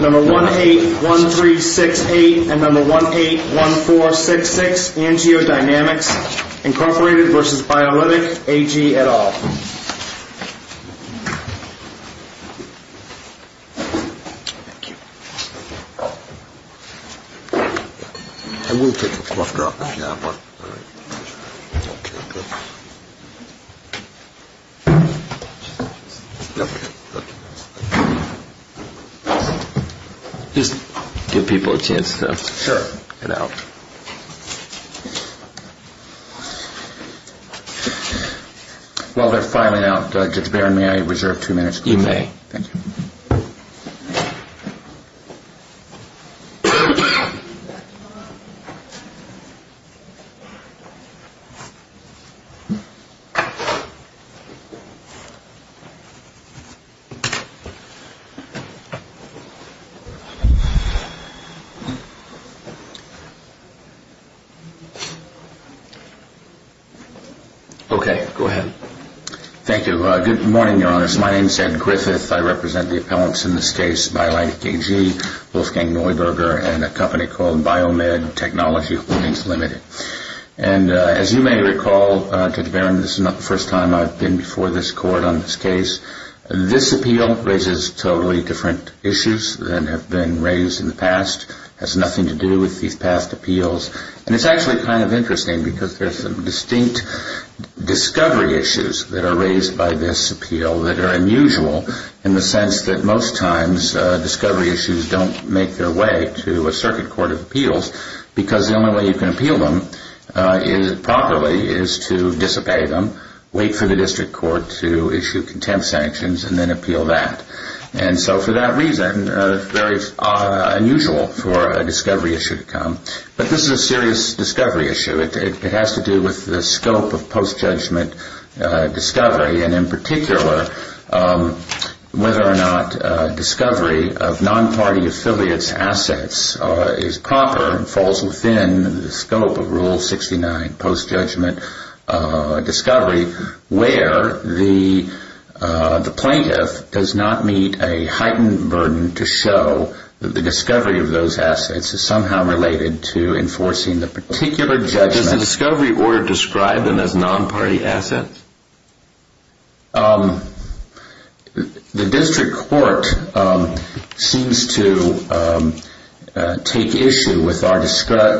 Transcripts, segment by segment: Number 181368 and number 181466, AngioDynamics, Inc. v. Biolitec AG et al. Just give people a chance to get out. While they're filing out, Judge Barron, may I reserve two minutes? Thank you. Okay, go ahead. Thank you. Good morning, Your Honor. My name is Ed Griffith. I represent the appellants in this case, Biolitec AG, Wolfgang Neuberger, and a company called Biomed Technology Holdings, Ltd. And as you may recall, Judge Barron, this is not the first time I've been before this court on this case. This appeal raises totally different issues than have been raised in the past. It has nothing to do with these past appeals. And it's actually kind of interesting because there's some distinct discovery issues that are raised by this appeal that are unusual, in the sense that most times discovery issues don't make their way to a circuit court of appeals because the only way you can appeal them properly is to disobey them, wait for the district court to issue contempt sanctions, and then appeal that. And so for that reason, it's very unusual for a discovery issue to come. But this is a serious discovery issue. It has to do with the scope of post-judgment discovery, and in particular, whether or not discovery of non-party affiliates' assets is proper and falls within the scope of Rule 69 post-judgment discovery, where the plaintiff does not meet a heightened burden to show that the discovery of those assets is somehow related to enforcing the particular judgment. Does the discovery order describe them as non-party assets? The district court seems to take issue with our description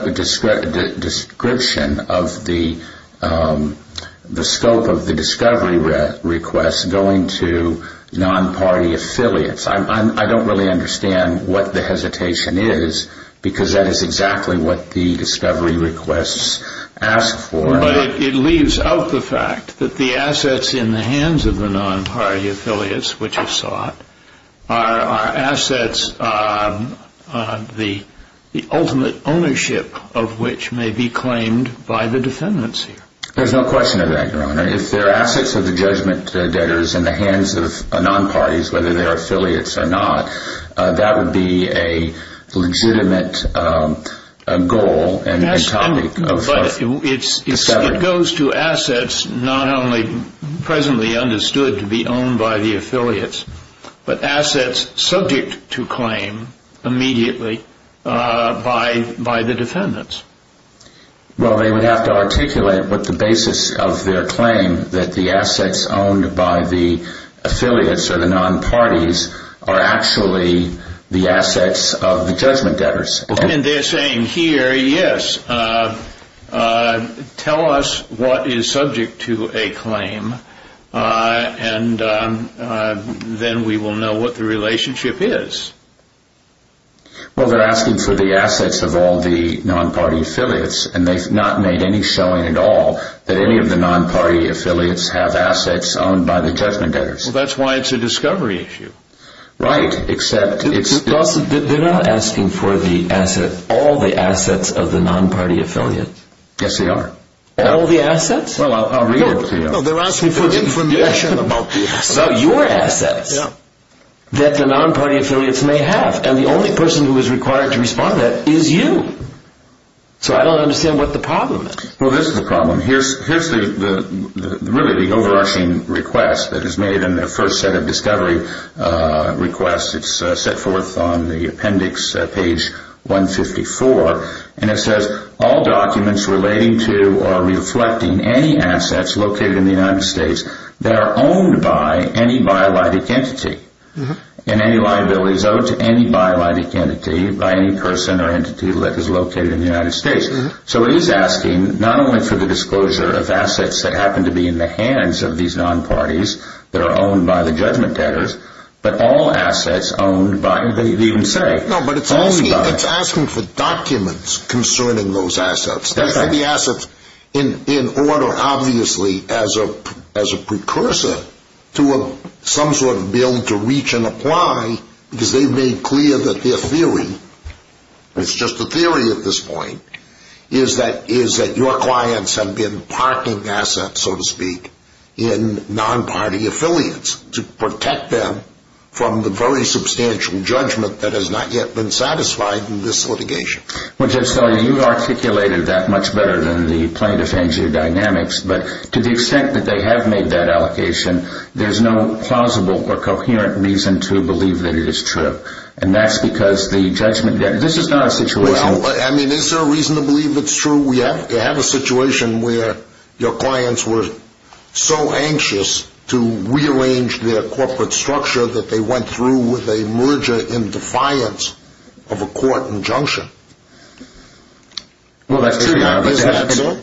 of the scope of the discovery requests going to non-party affiliates. I don't really understand what the hesitation is because that is exactly what the discovery requests ask for. But it leaves out the fact that the assets in the hands of the non-party affiliates which are sought are assets on the ultimate ownership of which may be claimed by the defendants here. There's no question of that, Your Honor. If they're assets of the judgment debtors in the hands of non-parties, whether they're affiliates or not, that would be a legitimate goal and topic. But it goes to assets not only presently understood to be owned by the affiliates, but assets subject to claim immediately by the defendants. Well, they would have to articulate what the basis of their claim that the assets owned by the affiliates or the non-parties are actually the assets of the judgment debtors. And they're saying here, yes, tell us what is subject to a claim and then we will know what the relationship is. Well, they're asking for the assets of all the non-party affiliates and they've not made any showing at all that any of the non-party affiliates have assets owned by the judgment debtors. Well, that's why it's a discovery issue. Right, except it's... They're not asking for the assets, all the assets of the non-party affiliates. Yes, they are. All the assets? Well, I'll read it to you. No, they're asking for information about the assets. So, your assets that the non-party affiliates may have and the only person who is required to respond to that is you. So, I don't understand what the problem is. Well, this is the problem. Here's really the overarching request that is made in the first set of discovery requests. It's set forth on the appendix, page 154. And it says, all documents relating to or reflecting any assets located in the United States that are owned by any biologic entity and any liabilities owed to any biologic entity by any person or entity that is located in the United States. So, it is asking not only for the disclosure of assets that happen to be in the hands of these non-parties that are owned by the judgment debtors, but all assets owned by... They even say... No, but it's asking for documents concerning those assets. It's asking for the assets in order, obviously, as a precursor to some sort of bill to reach and apply because they've made clear that their theory, it's just a theory at this point, is that your clients have been parking assets, so to speak, in non-party affiliates to protect them from the very substantial judgment that has not yet been satisfied in this litigation. Well, Jeff Sellier, you articulated that much better than the plaintiff's angiodynamics, but to the extent that they have made that allocation, there's no plausible or coherent reason to believe that it is true. And that's because the judgment debtors... This is not a situation... Well, that's true. Is that so?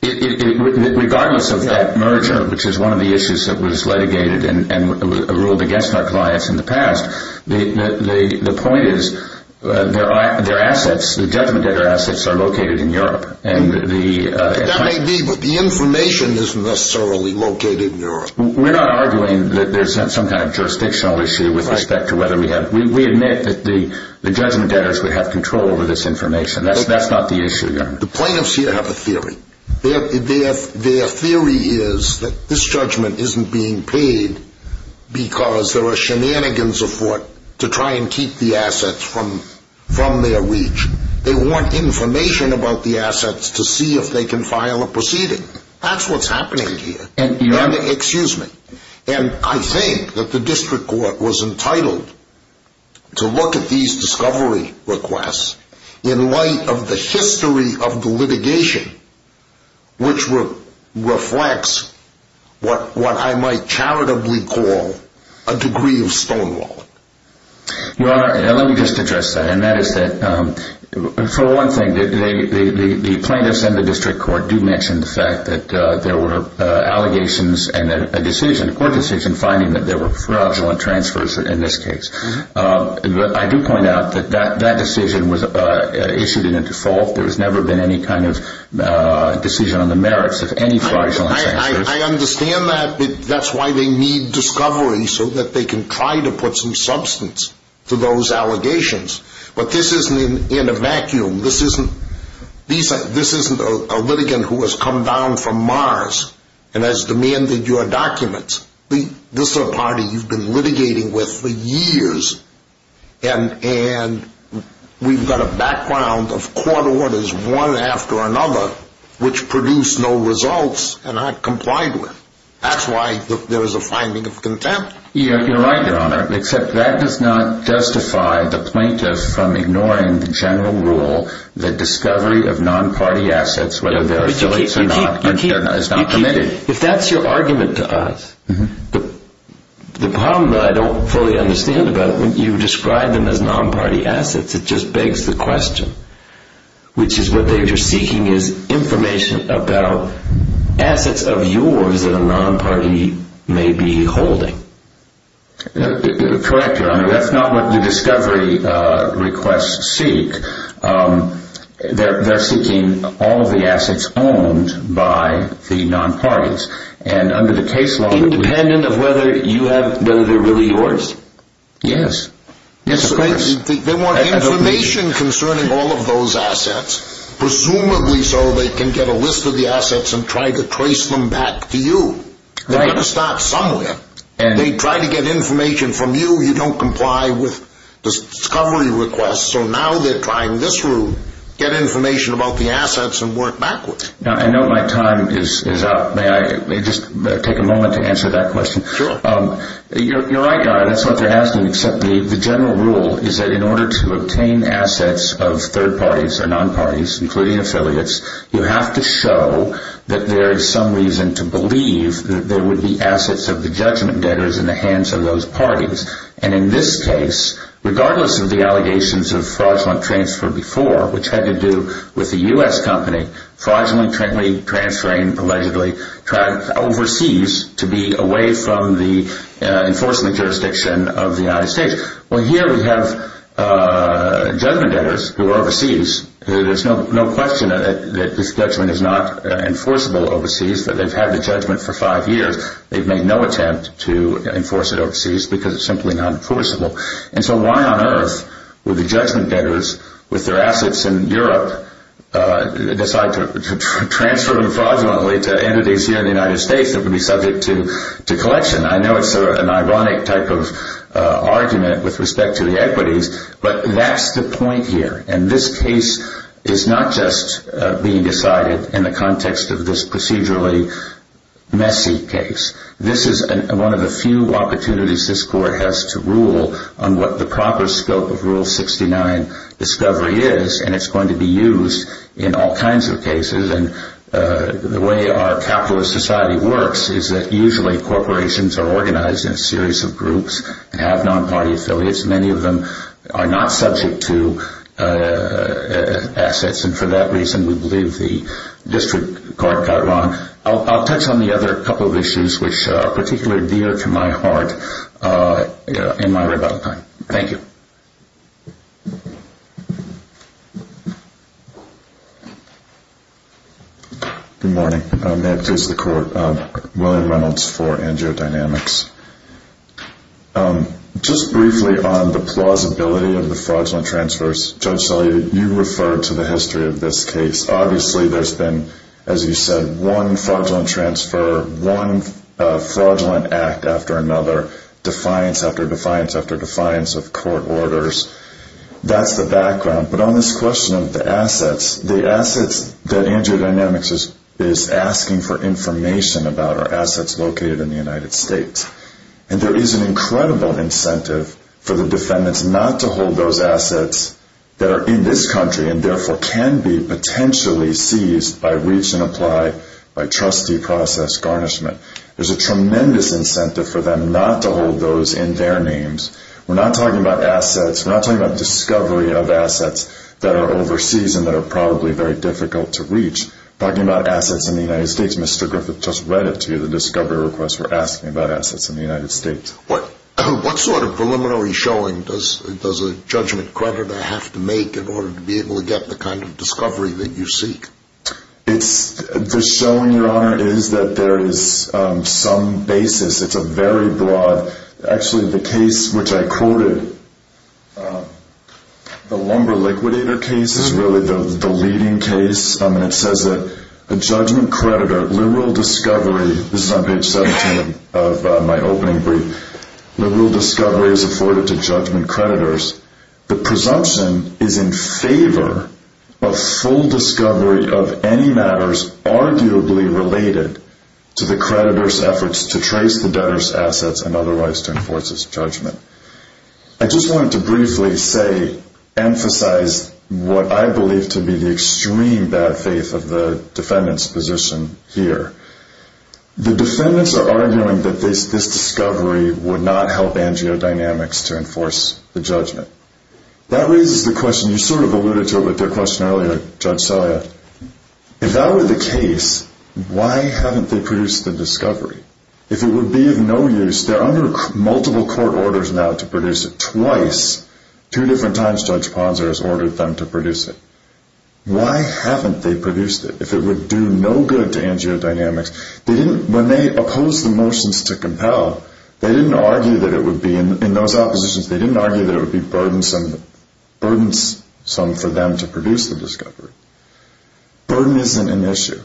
Regardless of that merger, which is one of the issues that was litigated and ruled against our clients in the past, the point is their assets, the judgment debtor assets, are located in Europe. That may be, but the information isn't necessarily located in Europe. We're not arguing that there's some kind of jurisdictional issue with respect to whether we have... We admit that the judgment debtors would have control over this information. That's not the issue here. The plaintiffs here have a theory. Their theory is that this judgment isn't being paid because there are shenanigans afoot to try and keep the assets from their reach. They want information about the assets to see if they can file a proceeding. That's what's happening here. Excuse me. And I think that the district court was entitled to look at these discovery requests in light of the history of the litigation, which reflects what I might charitably call a degree of stonewall. Your Honor, let me just address that. For one thing, the plaintiffs and the district court do mention the fact that there were allegations and a court decision finding that there were fraudulent transfers in this case. I do point out that that decision was issued in a default. There has never been any kind of decision on the merits of any fraudulent transfers. I understand that. That's why they need discovery so that they can try to put some substance to those allegations. But this isn't in a vacuum. This isn't a litigant who has come down from Mars and has demanded your documents. This is a party you've been litigating with for years. And we've got a background of court orders one after another which produce no results and aren't complied with. That's why there is a finding of contempt. You're right, Your Honor, except that does not justify the plaintiff from ignoring the general rule that discovery of non-party assets, whether they're affiliates or not, is not permitted. If that's your argument to us, the problem that I don't fully understand about it, when you describe them as non-party assets, it just begs the question, which is what they're seeking is information about assets of yours that a non-party may be holding. Correct, Your Honor. That's not what the discovery requests seek. They're seeking all of the assets owned by the non-parties. Independent of whether they're really yours? Yes. They want information concerning all of those assets, presumably so they can get a list of the assets and try to trace them back to you. They're going to start somewhere. They try to get information from you. You don't comply with the discovery requests, so now they're trying this route, get information about the assets and work backwards. Now, I know my time is up. May I just take a moment to answer that question? Sure. You're right, Your Honor. That's what they're asking, except the general rule is that in order to obtain assets of third parties or non-parties, including affiliates, you have to show that there is some reason to believe that there would be assets of the judgment debtors in the hands of those parties. And in this case, regardless of the allegations of fraudulent transfer before, which had to do with the U.S. company, fraudulently transferring, allegedly, overseas to be away from the enforcement jurisdiction of the United States. Well, here we have judgment debtors who are overseas. There's no question that this judgment is not enforceable overseas. They've had the judgment for five years. They've made no attempt to enforce it overseas because it's simply not enforceable. And so why on earth would the judgment debtors, with their assets in Europe, decide to transfer them fraudulently to entities here in the United States that would be subject to collection? I know it's an ironic type of argument with respect to the equities, but that's the point here. And this case is not just being decided in the context of this procedurally messy case. This is one of the few opportunities this Court has to rule on what the proper scope of Rule 69 discovery is, and it's going to be used in all kinds of cases. And the way our capitalist society works is that usually corporations are organized in a series of groups and have non-party affiliates, and many of them are not subject to assets. And for that reason, we believe the District Court got it wrong. I'll touch on the other couple of issues which are particularly dear to my heart in my rebuttal time. Thank you. Good morning. May it please the Court. William Reynolds for AngioDynamics. Just briefly on the plausibility of the fraudulent transfers. Judge Shelley, you referred to the history of this case. Obviously there's been, as you said, one fraudulent transfer, one fraudulent act after another, defiance after defiance after defiance of court orders. That's the background. But on this question of the assets, the assets that AngioDynamics is asking for information about are assets located in the United States. And there is an incredible incentive for the defendants not to hold those assets that are in this country and therefore can be potentially seized by reach-and-apply, by trustee process garnishment. There's a tremendous incentive for them not to hold those in their names. We're not talking about assets. We're not talking about discovery of assets that are overseas and that are probably very difficult to reach. We're talking about assets in the United States. Mr. Griffith just read it to you, the discovery request. We're asking about assets in the United States. What sort of preliminary showing does a judgment creditor have to make in order to be able to get the kind of discovery that you seek? The showing, Your Honor, is that there is some basis. It's a very broad. Actually, the case which I quoted, the Lumber Liquidator case is really the leading case. And it says that a judgment creditor, liberal discovery, this is on page 17 of my opening brief, liberal discovery is afforded to judgment creditors. The presumption is in favor of full discovery of any matters arguably related to the creditor's efforts to trace the debtor's assets and otherwise to enforce his judgment. I just wanted to briefly say, emphasize what I believe to be the extreme bad faith of the defendant's position here. The defendants are arguing that this discovery would not help angio-dynamics to enforce the judgment. That raises the question, you sort of alluded to it with your question earlier, Judge Sawyer. If that were the case, why haven't they produced the discovery? If it would be of no use, they're under multiple court orders now to produce it twice. Two different times Judge Ponzer has ordered them to produce it. Why haven't they produced it? If it would do no good to angio-dynamics, when they opposed the motions to compel, they didn't argue that it would be, in those oppositions, they didn't argue that it would be burdensome for them to produce the discovery. Burden isn't an issue.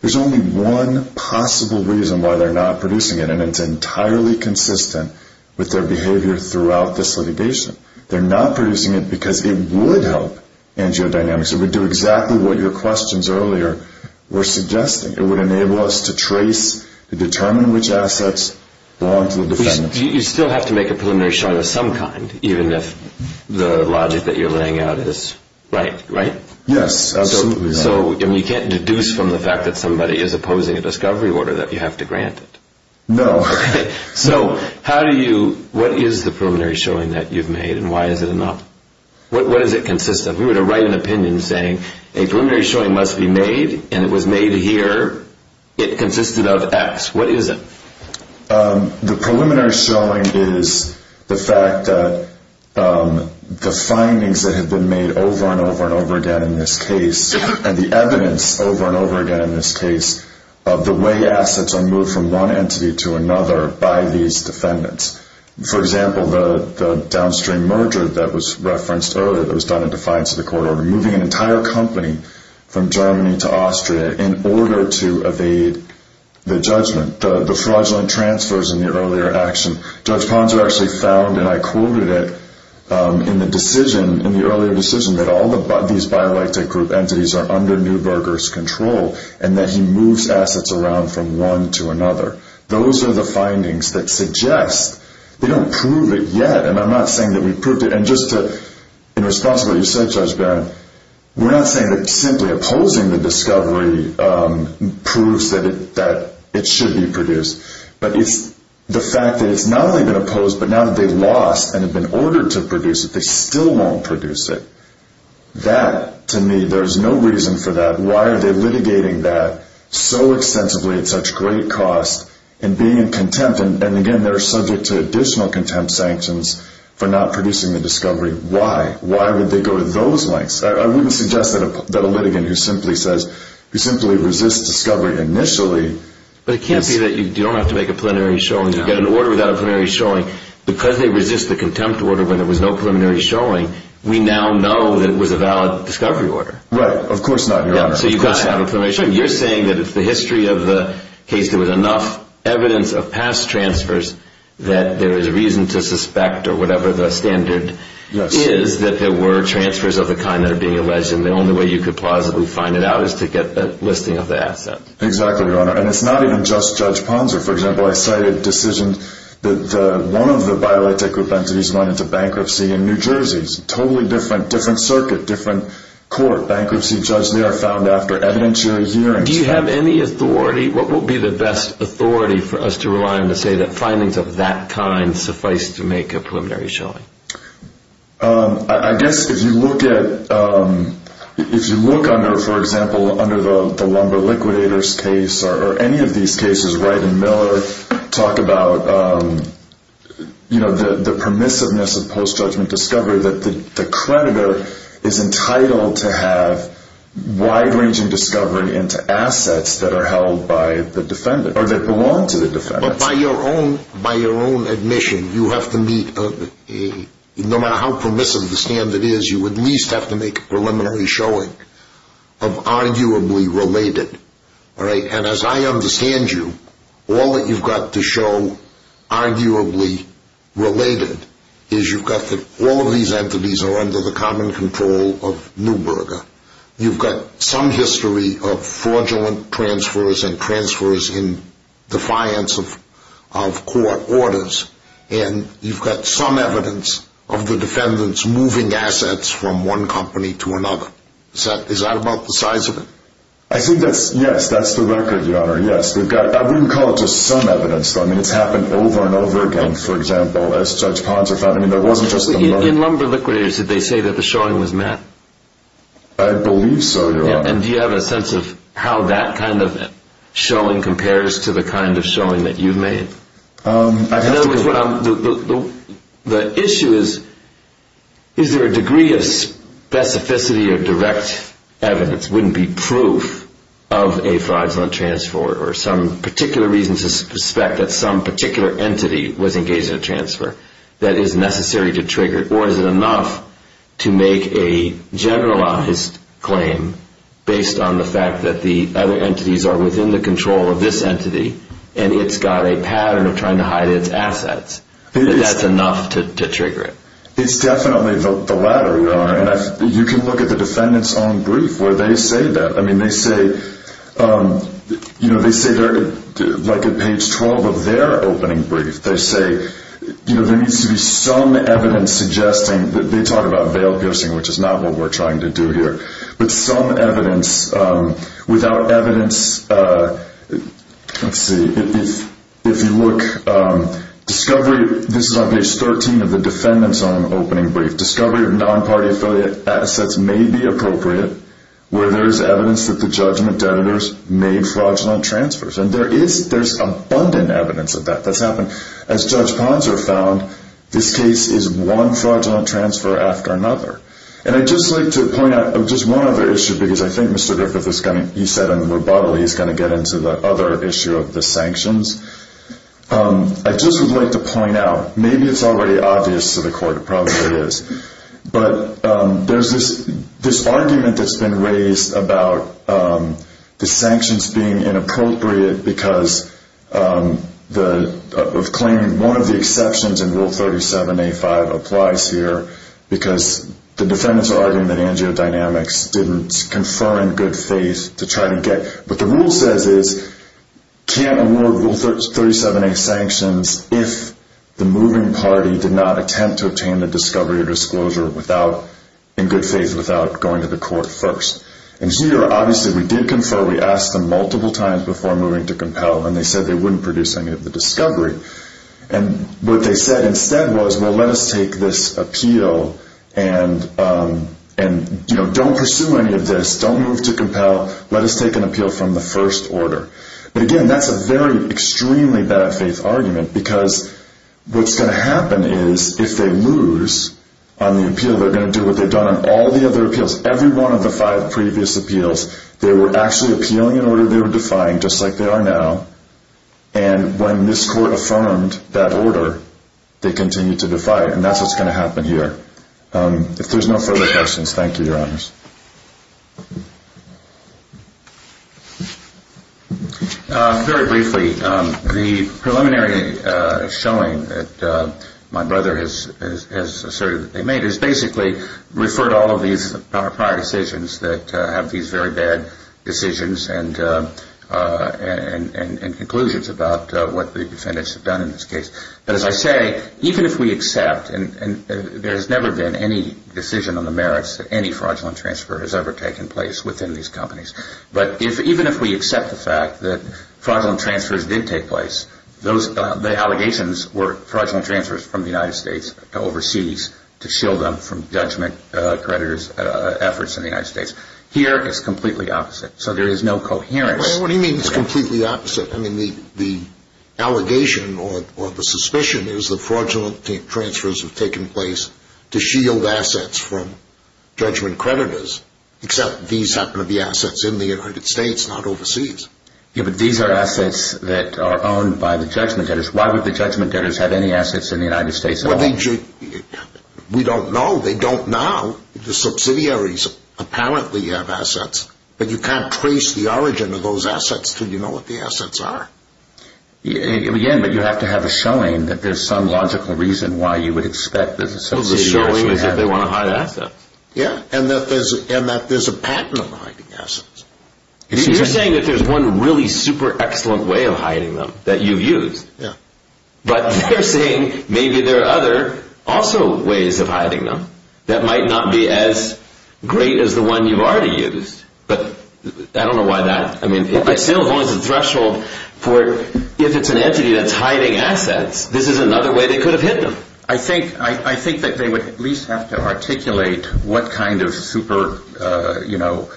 There's only one possible reason why they're not producing it, and it's entirely consistent with their behavior throughout this litigation. They're not producing it because it would help angio-dynamics. It would do exactly what your questions earlier were suggesting. It would enable us to trace, to determine which assets belong to the defendant. But you still have to make a preliminary showing of some kind, even if the logic that you're laying out is right, right? Yes, absolutely right. So you can't deduce from the fact that somebody is opposing a discovery order that you have to grant it? No. Okay. So how do you, what is the preliminary showing that you've made, and why is it not? What does it consist of? If we were to write an opinion saying a preliminary showing must be made, and it was made here, it consisted of X. What is it? The preliminary showing is the fact that the findings that have been made over and over and over again in this case, and the evidence over and over again in this case, of the way assets are moved from one entity to another by these defendants. For example, the downstream merger that was referenced earlier that was done in defiance of the court order, removing an entire company from Germany to Austria in order to evade the judgment, the fraudulent transfers in the earlier action. Judge Ponzer actually found, and I quoted it in the decision, in the earlier decision, that all these bioelectric group entities are under Neuberger's control, and that he moves assets around from one to another. Those are the findings that suggest they don't prove it yet, and I'm not saying that we proved it. And just to, in response to what you said, Judge Barron, we're not saying that simply opposing the discovery proves that it should be produced, but it's the fact that it's not only been opposed, but now that they've lost and have been ordered to produce it, they still won't produce it. That, to me, there's no reason for that. Why are they litigating that so extensively at such great cost and being in contempt? And, again, they're subject to additional contempt sanctions for not producing the discovery. Why? Why would they go to those lengths? I wouldn't suggest that a litigant who simply says, who simply resists discovery initially... But it can't be that you don't have to make a preliminary showing. You get an order without a preliminary showing. Because they resist the contempt order when there was no preliminary showing, we now know that it was a valid discovery order. Right. Of course not, Your Honor. So you've got to have a preliminary showing. You're saying that if the history of the case there was enough evidence of past transfers that there is reason to suspect, or whatever the standard is, that there were transfers of the kind that are being alleged, and the only way you could plausibly find it out is to get the listing of the asset. Exactly, Your Honor. And it's not even just Judge Ponzer. For example, I cited a decision that one of the BioLitech group entities went into bankruptcy in New Jersey. It's a totally different circuit, different court. They are found after evidentiary hearings. Do you have any authority? What would be the best authority for us to rely on to say that findings of that kind suffice to make a preliminary showing? I guess if you look at, if you look under, for example, under the Lumber Liquidators case, or any of these cases, Wright and Miller talk about the permissiveness of post-judgment discovery, where the creditor is entitled to have wide-ranging discovery into assets that are held by the defendant, or that belong to the defendant. But by your own admission, you have to meet, no matter how permissive the standard is, you at least have to make a preliminary showing of arguably related. And as I understand you, all that you've got to show arguably related is you've got all of these entities are under the common control of Neuberger. You've got some history of fraudulent transfers and transfers in defiance of court orders. And you've got some evidence of the defendants moving assets from one company to another. Is that about the size of it? I think that's, yes, that's the record, Your Honor, yes. We've got, I wouldn't call it just some evidence. I mean, it's happened over and over again. For example, as Judge Ponser found, I mean, there wasn't just the money. In Lumber Liquidators, did they say that the showing was met? I believe so, Your Honor. And do you have a sense of how that kind of showing compares to the kind of showing that you've made? In other words, the issue is, is there a degree of specificity or direct evidence, wouldn't be proof of a fraudulent transfer or some particular reason to suspect that some particular entity was engaged in a transfer that is necessary to trigger or is it enough to make a generalized claim based on the fact that the other entities are within the control of this entity and it's got a pattern of trying to hide its assets, that that's enough to trigger it? It's definitely the latter, Your Honor. And you can look at the defendant's own brief where they say that. I mean, they say, you know, they say there, like at page 12 of their opening brief, they say, you know, there needs to be some evidence suggesting, they talk about veiled ghosting, which is not what we're trying to do here, but some evidence without evidence, let's see, if you look, discovery, this is on page 13 of the defendant's own opening brief, discovery of non-party affiliate assets may be appropriate where there's evidence that the judgment debitors made fraudulent transfers. And there is, there's abundant evidence of that that's happened. As Judge Ponser found, this case is one fraudulent transfer after another. And I'd just like to point out just one other issue because I think Mr. Griffith is going to, he said in rebuttal he's going to get into the other issue of the sanctions. I just would like to point out, maybe it's already obvious to the court, it probably is, but there's this argument that's been raised about the sanctions being inappropriate because of claiming one of the exceptions in Rule 37A5 applies here because the defendants are arguing that Angio Dynamics didn't confer in good faith to try to get, what the rule says is can't award Rule 37A sanctions if the moving party did not attempt to obtain the discovery or disclosure without, in good faith, without going to the court first. And here, obviously, we did confer. We asked them multiple times before moving to compel, and they said they wouldn't produce any of the discovery. And what they said instead was, well, let us take this appeal and, you know, don't pursue any of this. Don't move to compel. Let us take an appeal from the first order. But, again, that's a very extremely bad faith argument because what's going to happen is if they lose on the appeal, they're going to do what they've done on all the other appeals, every one of the five previous appeals. They were actually appealing an order they were defying, just like they are now. And when this court affirmed that order, they continued to defy it. And that's what's going to happen here. If there's no further questions, thank you, Your Honors. Very briefly, the preliminary showing that my brother has asserted that they made is basically refer to all of these prior decisions that have these very bad decisions and conclusions about what the defendants have done in this case. But, as I say, even if we accept, and there has never been any decision on the merits of any fraudulent trial, no fraudulent transfer has ever taken place within these companies. But even if we accept the fact that fraudulent transfers did take place, the allegations were fraudulent transfers from the United States overseas to shield them from judgment creditors' efforts in the United States. Here, it's completely opposite. So there is no coherence. What do you mean it's completely opposite? The allegation or the suspicion is that fraudulent transfers have taken place to shield assets from judgment creditors, except these happen to be assets in the United States, not overseas. Yeah, but these are assets that are owned by the judgment debtors. Why would the judgment debtors have any assets in the United States at all? We don't know. The subsidiaries apparently have assets. But you can't trace the origin of those assets until you know what the assets are. Again, but you have to have a showing that there's some logical reason why you would expect that a subsidiary actually has those assets. Well, the showing is that they want to hide assets. Yeah, and that there's a patent on hiding assets. You're saying that there's one really super excellent way of hiding them that you've used. Yeah. But they're saying maybe there are other also ways of hiding them that might not be as great as the one you've already used. But I don't know why that... I mean, it still holds the threshold for if it's an entity that's hiding assets, this is another way they could have hidden them. I think that they would at least have to articulate what kind of super, you know,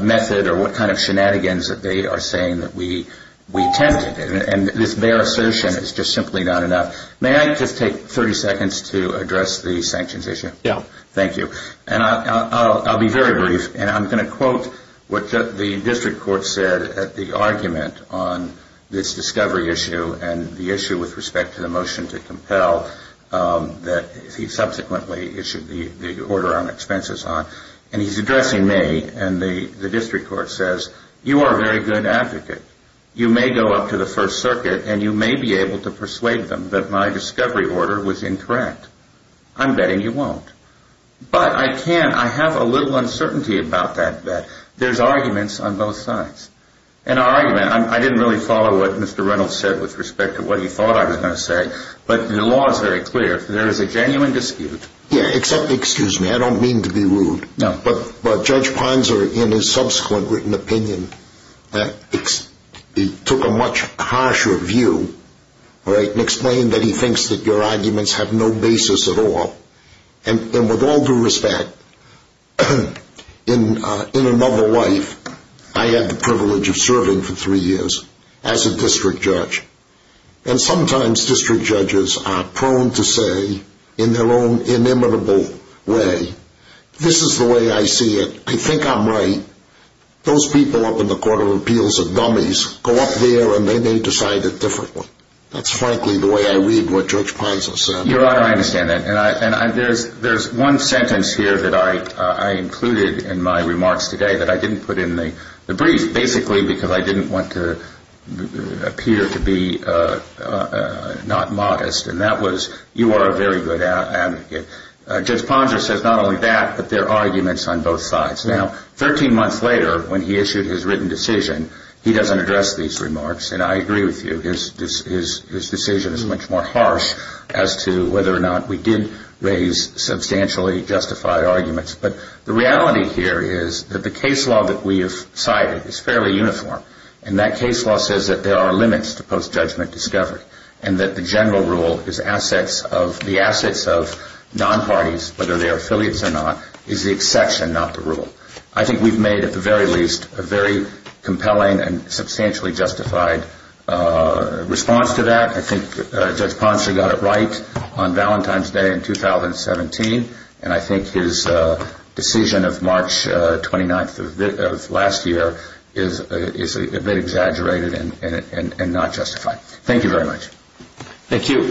method or what kind of shenanigans that they are saying that we attempted. And this bare assertion is just simply not enough. May I just take 30 seconds to address the sanctions issue? Yeah. Thank you. And I'll be very brief, and I'm going to quote what the district court said at the argument on this discovery issue and the issue with respect to the motion to compel that he subsequently issued the order on expenses on. And he's addressing me, and the district court says, you are a very good advocate. You may go up to the First Circuit, and you may be able to persuade them that my discovery order was incorrect. I'm betting you won't. But I can, I have a little uncertainty about that bet. There's arguments on both sides. An argument, I didn't really follow what Mr. Reynolds said with respect to what he thought I was going to say, but the law is very clear, there is a genuine dispute. Yeah, except, excuse me, I don't mean to be rude. No. But Judge Ponser, in his subsequent written opinion, took a much harsher view, right, and explained that he thinks that your arguments have no basis at all. And with all due respect, in another life, I had the privilege of serving for three years as a district judge. And sometimes district judges are prone to say, in their own inimitable way, this is the way I see it. I think I'm right. Those people up in the Court of Appeals are dummies. Go up there, and they may decide it differently. That's frankly the way I read what Judge Ponser said. Your Honor, I understand that. And there's one sentence here that I included in my remarks today that I didn't put in the brief, basically because I didn't want to appear to be not modest, and that was, you are a very good advocate. Judge Ponser says not only that, but there are arguments on both sides. Now, 13 months later, when he issued his written decision, he doesn't address these remarks, and I agree with you. His decision is much more harsh as to whether or not we did raise substantially justified arguments. But the reality here is that the case law that we have cited is fairly uniform, and that case law says that there are limits to post-judgment discovery, and that the general rule is the assets of nonparties, whether they are affiliates or not, is the exception, not the rule. I think we've made, at the very least, a very compelling and substantially justified response to that. I think Judge Ponser got it right on Valentine's Day in 2017, and I think his decision of March 29th of last year is a bit exaggerated and not justified. Thank you very much. Thank you.